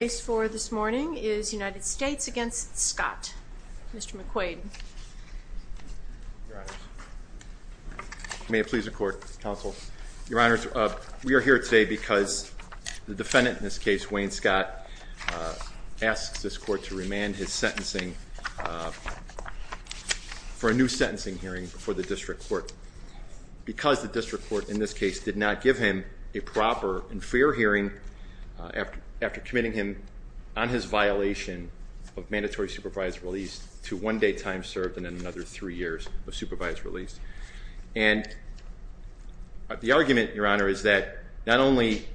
The case for this morning is United States v. Scott. Mr. McQuaid. Your Honor, may it please the Court, Counsel. Your Honor, we are here today because the defendant in this case, Wayne Scott, asks this Court to remand his sentencing for a new sentencing hearing before the District Court. Because the District Court in this case did not give him a proper and fair hearing after committing him on his violation of mandatory supervised release to one day time served and another three years of supervised release. And the argument, Your Honor, is that not only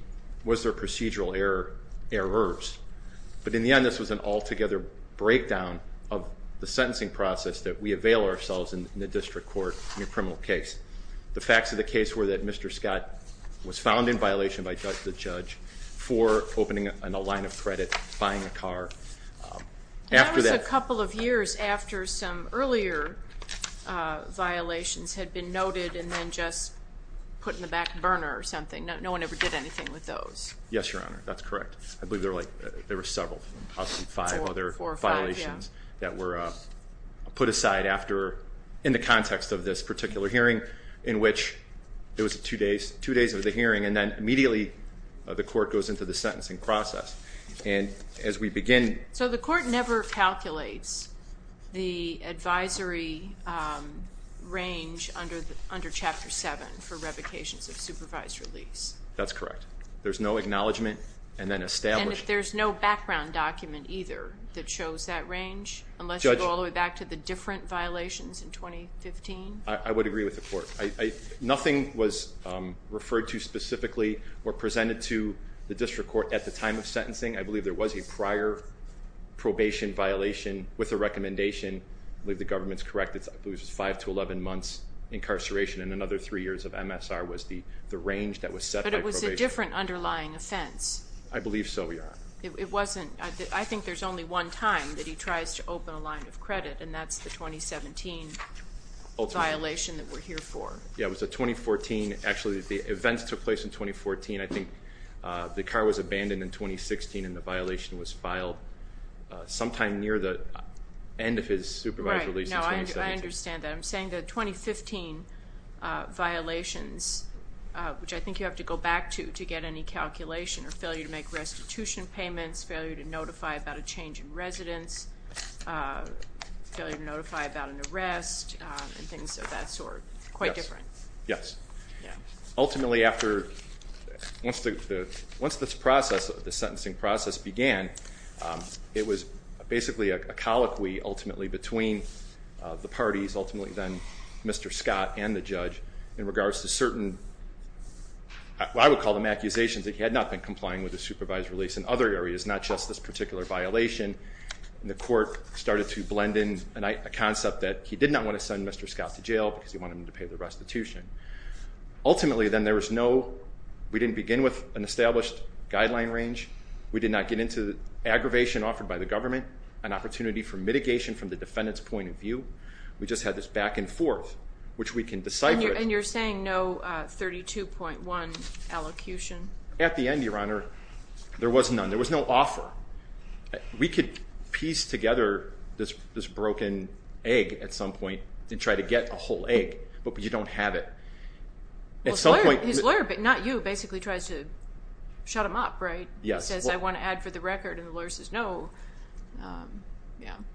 was there procedural errors, but in the end this was an altogether breakdown of the sentencing process that we avail ourselves in the District Court in a criminal case. The facts of the case were that Mr. Scott was found in violation by the judge for opening a line of credit, buying a car. And that was a couple of years after some earlier violations had been noted and then just put in the back burner or something. No one ever did anything with those. Yes, Your Honor, that's correct. I believe there were several, possibly five other violations that were put aside in the context of this particular hearing in which it was two days of the hearing and then immediately the Court goes into the sentencing process. So the Court never calculates the advisory range under Chapter 7 for revocations of supervised release. That's correct. There's no acknowledgment and then established. And there's no background document either that shows that range unless you go all the way back to the different violations in 2015? I would agree with the Court. Nothing was referred to specifically or presented to the District Court at the time of sentencing. I believe there was a prior probation violation with a recommendation. I believe the government's correct. It was five to 11 months incarceration and another three years of MSR was the range that was set by probation. But it was a different underlying offense? I believe so, Your Honor. I think there's only one time that he tries to open a line of credit and that's the 2017 violation that we're here for. Yeah, it was a 2014, actually the events took place in 2014. I think the car was abandoned in 2016 and the violation was I understand that. I'm saying the 2015 violations, which I think you have to go back to to get any calculation or failure to make restitution payments, failure to notify about a change in residence, failure to notify about an arrest and things of that sort. Quite different. Yes. Ultimately after once this process, this sentencing process began it was basically a colloquy ultimately between the parties, ultimately then Mr. Scott and the judge in regards to certain I would call them accusations that he had not been complying with the supervised release in other areas, not just this particular violation. The court started to blend in a concept that he did not want to send Mr. Scott to jail because he wanted him to pay the restitution. Ultimately then there was no, we didn't begin with an established guideline range. We did not get into aggravation offered by the government, an opportunity for mitigation from the defendant's point of view. We just had this back and forth, which we can decipher. And you're saying no 32.1 allocution? At the end, Your Honor, there was none. There was no offer. We could piece together this broken egg at some point and try to get a whole egg, but you don't have it. His lawyer, not you, basically tries to shut him up, right? He says, I want to add for the record and the lawyer says no.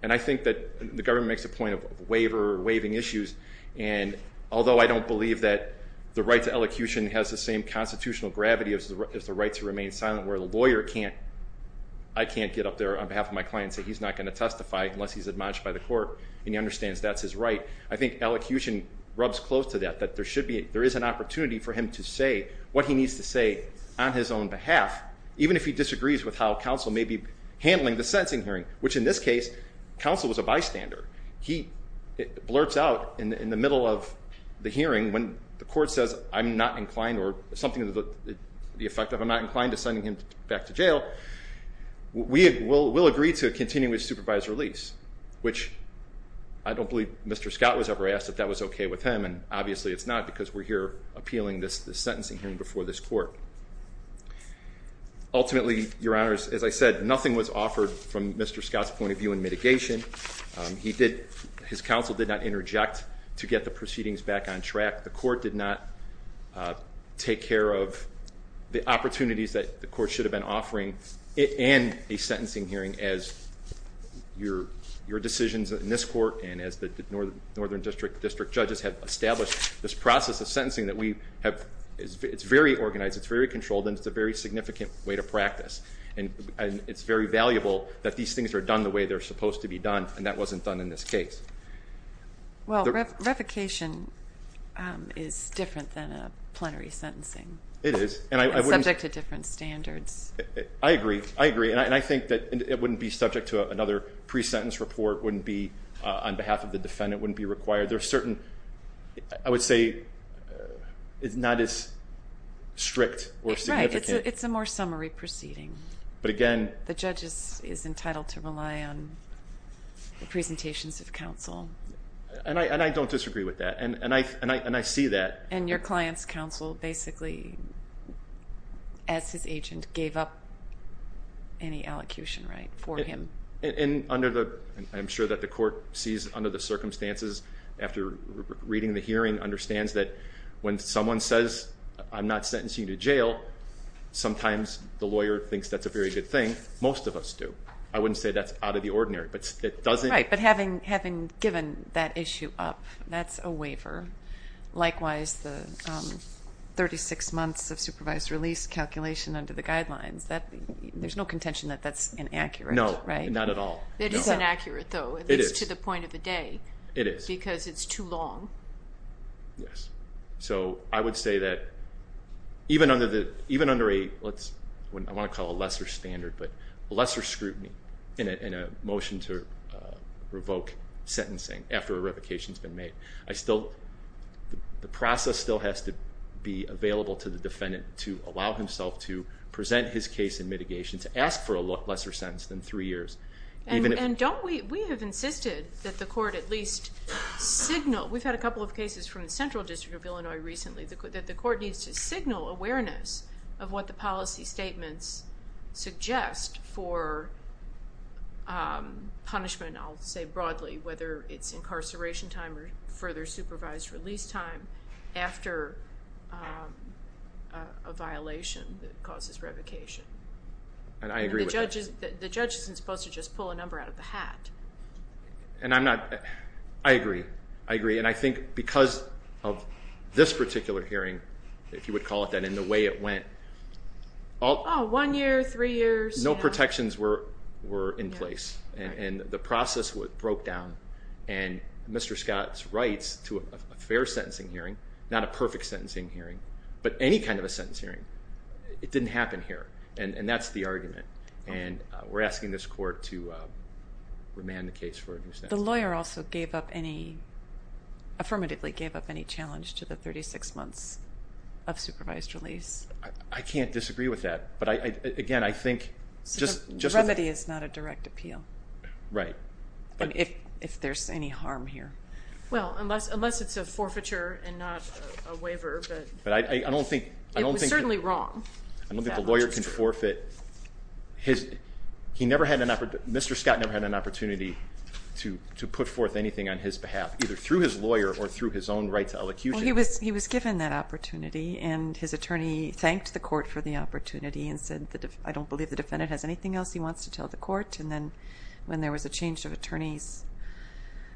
And I think that the government makes a point of waiver or waiving issues. And although I don't believe that the right to elocution has the same constitutional gravity as the right to remain silent where the lawyer can't, I can't get up there on behalf of my client and say he's not going to testify unless he's admonished by the court and he understands that's his right. I think elocution rubs close to that, that there is an opportunity for him to say what he needs to say on his own behalf, even if he disagrees with how counsel may be handling the sentencing hearing, which in this case, counsel was a bystander. He blurts out in the middle of the hearing when the court says I'm not inclined or something to the effect of I'm not inclined to send him back to jail, we will agree to a continuous supervised release, which I don't believe Mr. Scott was ever asked if that was okay with him. And obviously it's not because we're here appealing this sentencing hearing before this court. Ultimately, your honors, as I said, nothing was offered from Mr. Scott's point of view in mitigation. He did, his counsel did not take care of the opportunities that the court should have been offering and a sentencing hearing as your decisions in this court and as the northern district judges have established this process of sentencing that we have, it's very organized, it's very controlled, and it's a very significant way to practice. And it's very valuable that these things are done the way they're supposed to be done, and that wasn't done in this case. Well, revocation is different than a plenary sentencing. It is. And subject to different standards. I agree, I agree, and I think that it wouldn't be subject to another pre-sentence report, wouldn't be on behalf of the defendant, wouldn't be required. There are certain, I would say, it's not as strict or significant. Right, it's a more summary proceeding. But again. The judge is And I don't disagree with that, and I see that. And your client's counsel basically, as his agent, gave up any allocution right for him. And under the, I'm sure that the court sees under the circumstances after reading the hearing, understands that when someone says, I'm not sentencing you to jail, sometimes the lawyer thinks that's a very good thing. Most of us do. I wouldn't say that's out of the ordinary. Right, but having given that issue up, that's a waiver. Likewise, the 36 months of supervised release calculation under the guidelines, there's no contention that that's inaccurate. No, not at all. It is inaccurate though, at least to the point of the day. It is. Because it's too long. Yes. So I would say that even under a, I want to call it a lesser standard, but lesser scrutiny in a motion to revoke sentencing after a revocation's been made. I still, the process still has to be available to the defendant to allow himself to present his case in mitigation, to ask for a lesser sentence than three years. And don't we, we have insisted that the court at least signal, we've had a couple of cases from the Central District of Illinois recently, that the court needs to signal awareness of what the policy statements suggest for punishment, I'll say broadly, whether it's incarceration time or further supervised release time after a violation that causes revocation. And I agree with that. The judge isn't supposed to just pull a number out of the hat. And I'm not, I agree. I agree. And I think because of this particular hearing, if you would call it that, and the way it went. Oh, one year, three years. No protections were in place. And the process broke down and Mr. Scott's rights to a fair sentencing hearing, not a perfect sentencing hearing, but any kind of a sentence hearing, it didn't happen here. And that's the argument. And we're asking this court to remand the case for a new sentence. The lawyer also gave up any, affirmatively gave up any challenge to the 36 months of supervised release. I can't disagree with that. But again, I think... So the remedy is not a direct appeal. Right. If there's any harm here. Well, unless it's a forfeiture and not a waiver. But I don't think... It was certainly wrong. I don't think the lawyer can forfeit. He never had an opportunity, Mr. Scott never had an opportunity to put forth anything on his behalf, either through his lawyer or through his own right to elocution. He was given that opportunity and his attorney thanked the court for the opportunity and said, I don't believe the defendant has anything else he wants to tell the court. And then when there was a change of attorneys,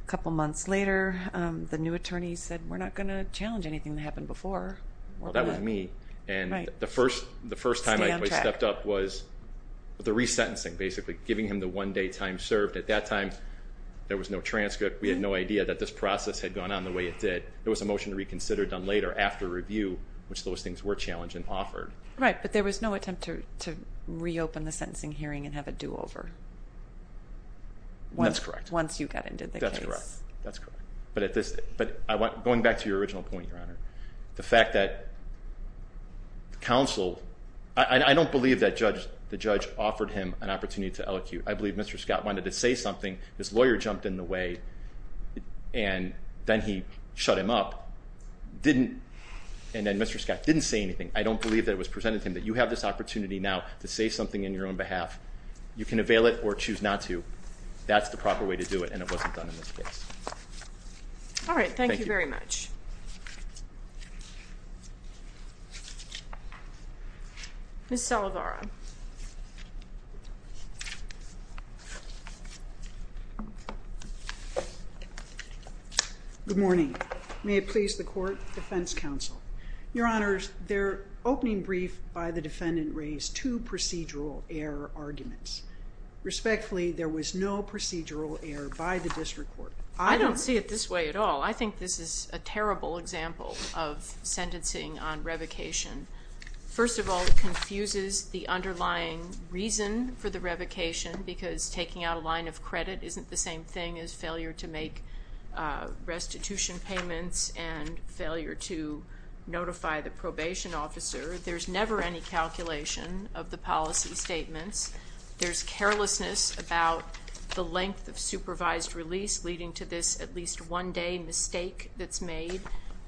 a couple months later, the new attorney said, we're not going to challenge anything that happened before. Well, that was me. And the first time I stepped up was the resentencing, basically giving him the one day time served. At that time, there was no transcript. We had no idea that this process had gone on the way it did. There was a motion to reconsider done later after review, which those things were challenged and offered. Right. But there was no attempt to reopen the sentencing hearing and have a do-over. That's correct. Once you got into the case. That's correct. Going back to your original point, Your Honor, the fact that counsel... I don't believe that the judge offered him an opportunity to elocute. I believe Mr. Scott wanted to say something. His lawyer jumped in the way and then he shut him up. And then Mr. Scott didn't say anything. I don't believe that it was presented to him. But you have this opportunity now to say something in your own behalf. You can avail it or choose not to. That's the proper way to do it, and it wasn't done in this case. All right. Thank you very much. Ms. Salovara. Good morning. May it please the Court, Defense Counsel. Your Honor, their opening brief by the defendant raised two procedural error arguments. Respectfully, there was no procedural error by the district court. I don't see it this way at all. I think this is a terrible example of sentencing on revocation. First of all, it confuses the underlying reason for the revocation, because taking out a line of credit isn't the same thing as failure to make restitution payments and failure to notify the probation officer. There's never any calculation of the policy statements. There's carelessness about the length of supervised release, leading to this at least one-day mistake that's made.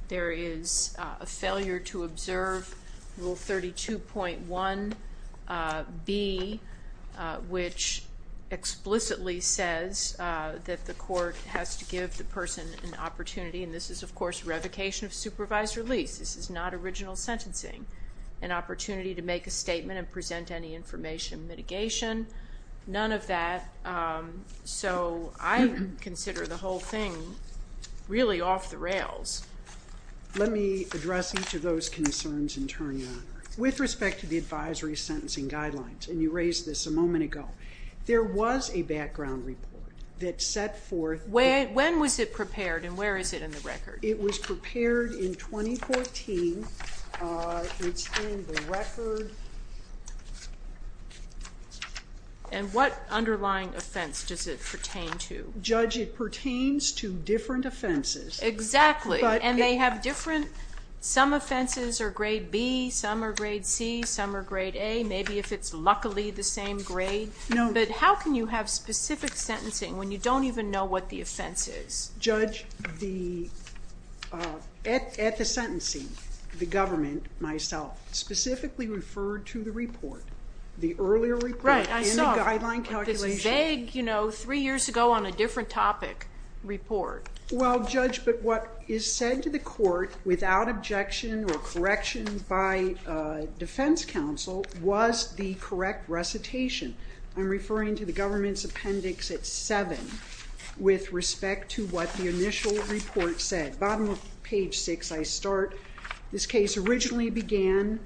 There is a failure to observe Rule 32.1B, which explicitly says that the court has to give the person an opportunity. And this is, of course, revocation of supervised release. This is not original sentencing. An opportunity to make a statement and present any information mitigation. None of that. So I consider the whole thing really off the rails. Let me address each of those concerns in turn, Your Honor. With respect to the advisory sentencing guidelines, and you raised this a moment ago, there was a background report that set forth... When was it prepared and where is it in the record? It was prepared in 2014. It's in the record. And what underlying offense does it pertain to? Judge, it pertains to different offenses. Exactly. And they have different... Some offenses are grade B, some are grade C, some are grade A, maybe if it's luckily the same grade. But how can you have specific sentencing when you don't even know what the offense is? Judge, at the sentencing, the government, myself, specifically referred to the report. The earlier report in the guideline calculation... The vague, you know, three years ago on a different topic report. Well, Judge, but what is said to the court without objection or correction by defense counsel was the correct recitation. I'm referring to the government's appendix at 7 with respect to what the initial report said. Bottom of page 6, I start. This case originally began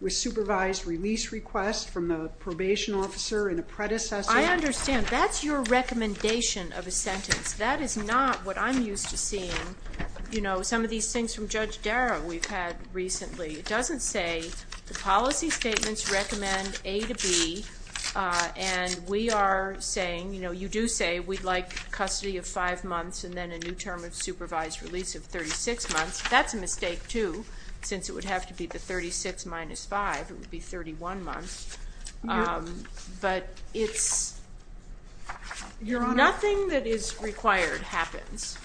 with supervised release request from the probation officer and a predecessor... I understand. That's your recommendation of a sentence. That is not what I'm used to seeing. You know, some of these things from Judge Darrow we've had recently. It doesn't say the policy statements recommend A to B. And we are saying, you know, you do say we'd like custody of 5 months and then a new term of supervised release of 36 months. That's a mistake, too, since it would have to be the 36 minus 5. It would be 31 months. But it's... Your Honor... Nothing that is required happens.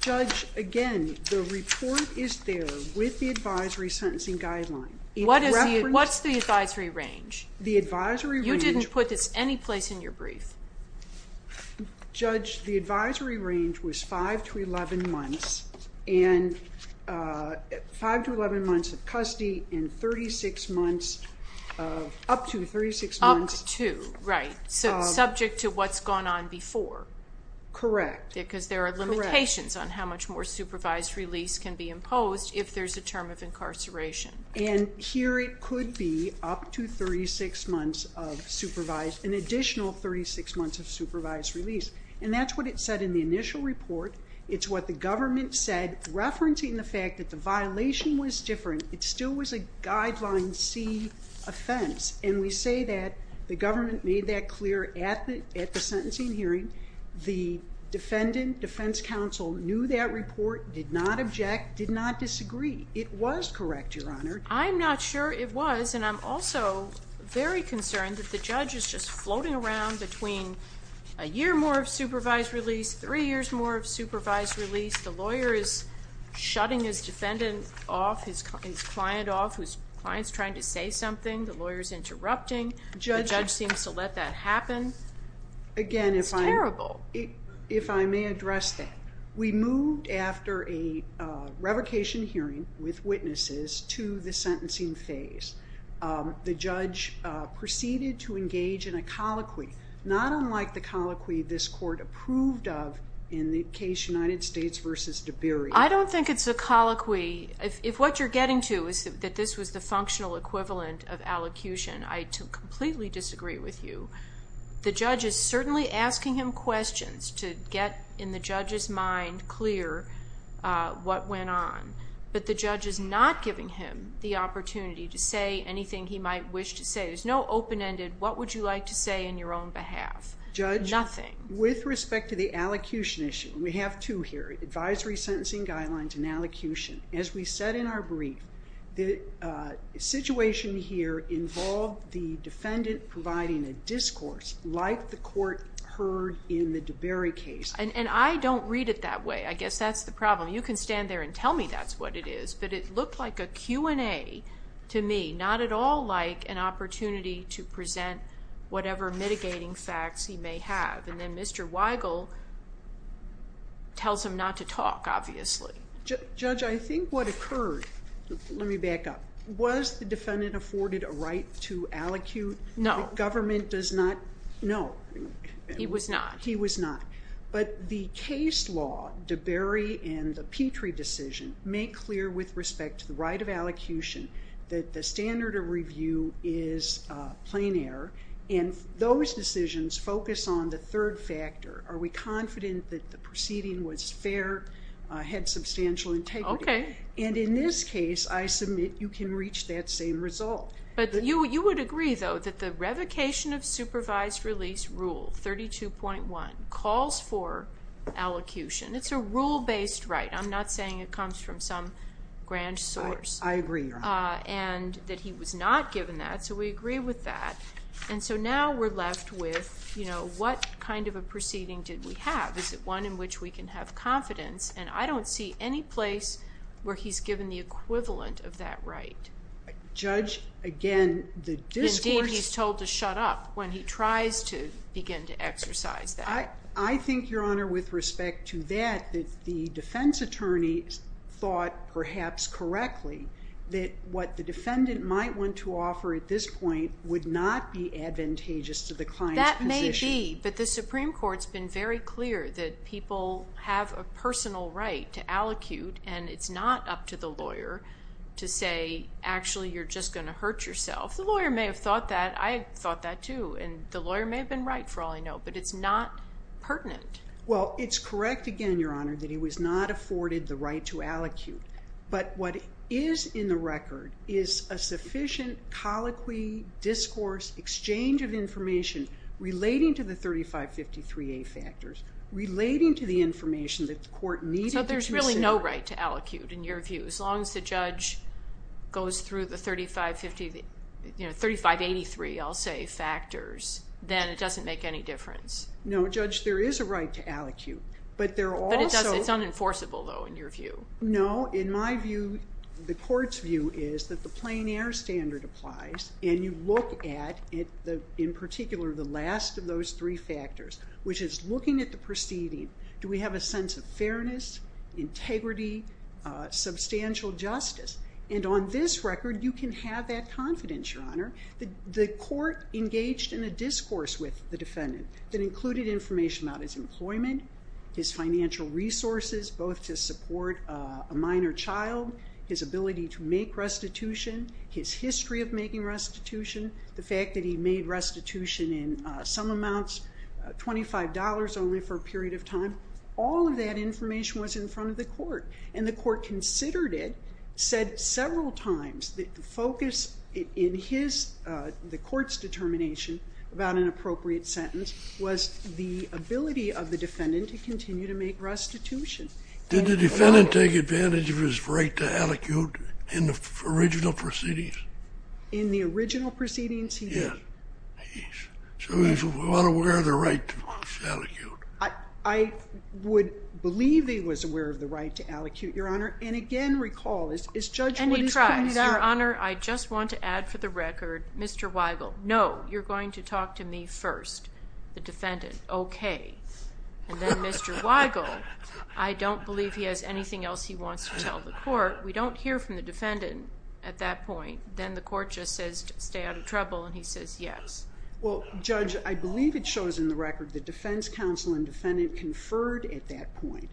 Judge, again, the report is there with the advisory sentencing guideline. What's the advisory range? The advisory range... You didn't put this any place in your brief. Judge, the advisory range was 5 to 11 months and... 5 to 11 months of custody and 36 months of... Up to 36 months... Up to, right. So subject to what's gone on before. Correct. Because there are limitations on how much more supervised release can be imposed if there's a term of incarceration. And here it could be up to 36 months of supervised... An additional 36 months of supervised release. And that's what it said in the initial report. It's what the government said referencing the fact that the violation was different. It still was a guideline C offense. And we say that the government made that clear at the sentencing hearing. The defendant, defense counsel, knew that report, did not object, did not disagree. It was correct, Your Honor. I'm not sure it was, and I'm also very concerned that the judge is just floating around between a year more of supervised release, three years more of supervised release. The lawyer is shutting his defendant off, his client off, his client's trying to say something. The lawyer's interrupting. The judge seems to let that happen. Again, if I... It's terrible. If I may address that. We moved after a revocation hearing with witnesses to the sentencing phase. The judge proceeded to engage in a colloquy. Not unlike the colloquy this court approved of in the case United States v. Deberry. I don't think it's a colloquy. If what you're getting to is that this was the functional equivalent of allocution, I completely disagree with you. The judge is certainly asking him questions to get in the judge's mind clear what went on. But the judge is not giving him the opportunity to say anything he might wish to say. There's no open-ended, what would you like to say in your own behalf? Nothing. With respect to the allocution issue, we have two here, advisory sentencing guidelines and allocution. As we said in our brief, the situation here involved the defendant providing a discourse like the court heard in the Deberry case. And I don't read it that way. I guess that's the problem. You can stand there and tell me that's what it is. But it looked like a Q&A to me. Not at all like an opportunity to present whatever mitigating facts he may have. And then Mr. Weigel tells him not to talk, obviously. Judge, I think what occurred, let me back up. Was the defendant afforded a right to allocute? No. The government does not? No. He was not. But the case law, Deberry and the Petrie decision, make clear with respect to the right of allocution that the standard of review is plain error. And those decisions focus on the third factor. Are we confident that the proceeding was fair, had substantial integrity? And in this case, I submit you can reach that same result. But you would agree, though, that the revocation of supervised release rule 32.1 calls for allocution. It's a rule-based right. I'm not saying it comes from some grand source. I agree, Your Honor. And that he was not given that, so we agree with that. And so now we're left with, you know, what kind of a proceeding did we have? Is it one in which we can have confidence? And I don't see any equivalent of that right. Judge, again, the discourse... Indeed, he's told to shut up when he tries to begin to exercise that. I think, Your Honor, with respect to that, that the defense attorney thought perhaps correctly that what the defendant might want to offer at this point would not be advantageous to the client's position. That may be, but the Supreme Court's been very clear that people have a personal right to allocute, and it's not up to the lawyer to say, actually, you're just going to hurt yourself. The lawyer may have thought that. I thought that, too. And the lawyer may have been right, for all I know. But it's not pertinent. Well, it's correct, again, Your Honor, that he was not afforded the right to allocute. But what is in the record is a sufficient colloquy, discourse, exchange of information relating to the 3553A factors, relating to the information that the court needed to consider. So there's really no right to allocute, in your view, as long as the judge goes through the 3583, I'll say, factors, then it doesn't make any difference. No, Judge, there is a right to allocute. But it's unenforceable, though, in your view. No, in my view, the court's right is to make a decision based on the fact that the court is looking at the preceding. Do we have a sense of fairness, integrity, substantial justice? And on this record, you can have that confidence, Your Honor, that the court engaged in a discourse with the defendant that included information about his employment, his financial resources, both to support a minor child, his ability to make restitution, his history of making restitution, the fact that he made restitution in some amounts, $25 only for a period of time. All of that information was in front of the court. And the court considered it, said several times that the focus in the court's determination about an appropriate sentence was the ability of the defendant to continue to make restitution. Did the defendant take advantage of his right to allocute in the original proceedings? In the original proceedings, he did. So he was not aware of the right to allocute. I would believe he was aware of the right to allocute, Your Honor. And again, recall, as Judge Wood has pointed out... And he tries, Your Honor. I just want to add for the record, Mr. Weigel, no, you're going to talk to me first. The defendant, okay. And then Mr. Weigel, I don't believe he has anything else he wants to tell the court. We don't hear from the defendant at that point. Then the court just says, stay out of trouble, and he says yes. Well, Judge, I believe it shows in the record the defense counsel and defendant conferred at that point.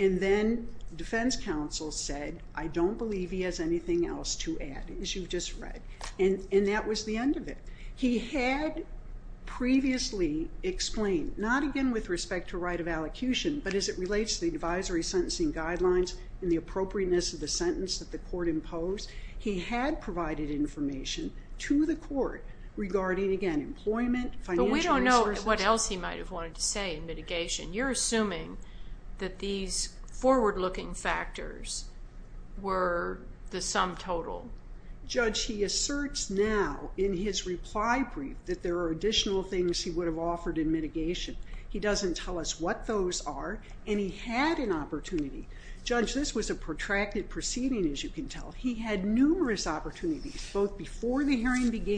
And then defense counsel said, I don't believe he has anything else to add, as you've just read. And that was the end of it. He had previously explained, not again with respect to right of allocution, but as it relates to the advisory sentencing guidelines and the appropriateness of the sentence that the court imposed, he had provided information to the court regarding, again, employment, financial resources... But we don't know what else he might have wanted to say in mitigation. You're assuming that these forward-looking factors were the sum total. Judge, he asserts now in his reply brief that there are additional things he would have offered in mitigation. He doesn't tell us what those are, and he had an opportunity. Judge, this was a protracted proceeding, as you can tell. He had numerous opportunities, both before the advisory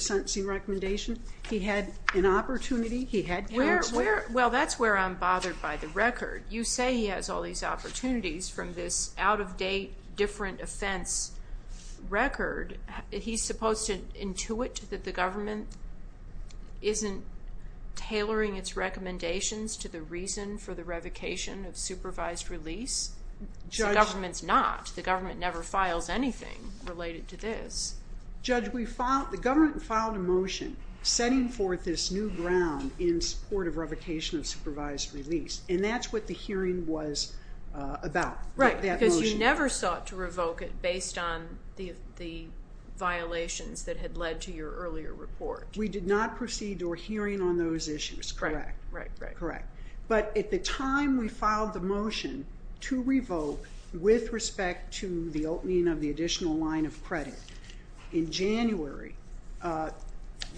sentencing recommendation. He had an opportunity. He had grants. Well, that's where I'm bothered by the record. You say he has all these opportunities from this out-of-date different offense record. He's supposed to intuit that the government isn't tailoring its recommendations to the reason for the revocation of supervised release? The government's not. The government never files anything related to this. Judge, the government filed a motion setting forth this new ground in support of revocation of supervised release, and that's what the hearing was about. Right, because you never sought to revoke it based on the violations that had led to your earlier report. We did not proceed to a hearing on those issues, correct. But at the time we filed the motion to revoke with respect to the opening of the additional line of credit in January,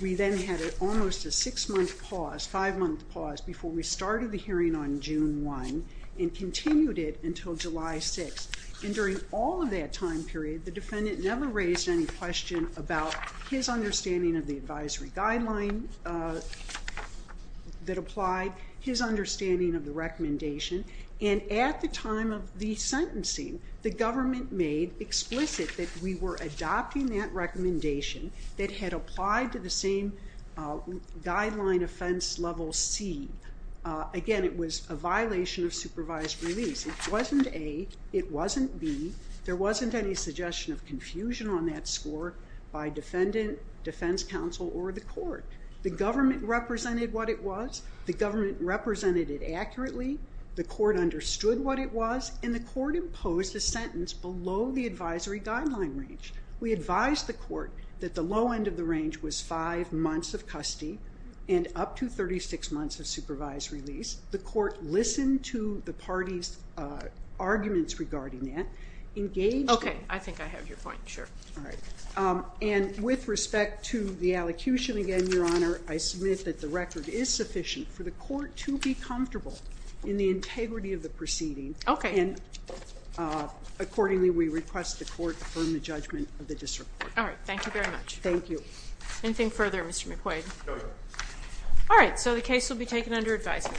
we then had almost a six-month pause, five-month pause, before we started the hearing on June 1 and continued it until July 6. And during all of that time period, the defendant never raised any question about his understanding of the advisory guideline that applied, his understanding of the recommendation, and at the time of the sentencing, the government made explicit that we were adopting that recommendation that had applied to the same guideline offense level C. Again, it was a violation of supervised release. It wasn't A, it was the defendant, defense counsel, or the court. The government represented what it was, the government represented it accurately, the court understood what it was, and the court imposed a sentence below the advisory guideline range. We advised the court that the low end of the range was five months of custody and up to 36 months of supervised release. The court listened to the parties' arguments regarding that. Okay, I think I have your point, sure. And with respect to the allocution again, Your Honor, I submit that the record is sufficient for the court to be comfortable in the integrity of the proceeding. Okay. And accordingly, we request the court affirm the judgment of the disreport. All right, thank you very much. Thank you. Anything further, Mr. McQuaid? No, Your Honor. All right, so the case will be taken under advisory.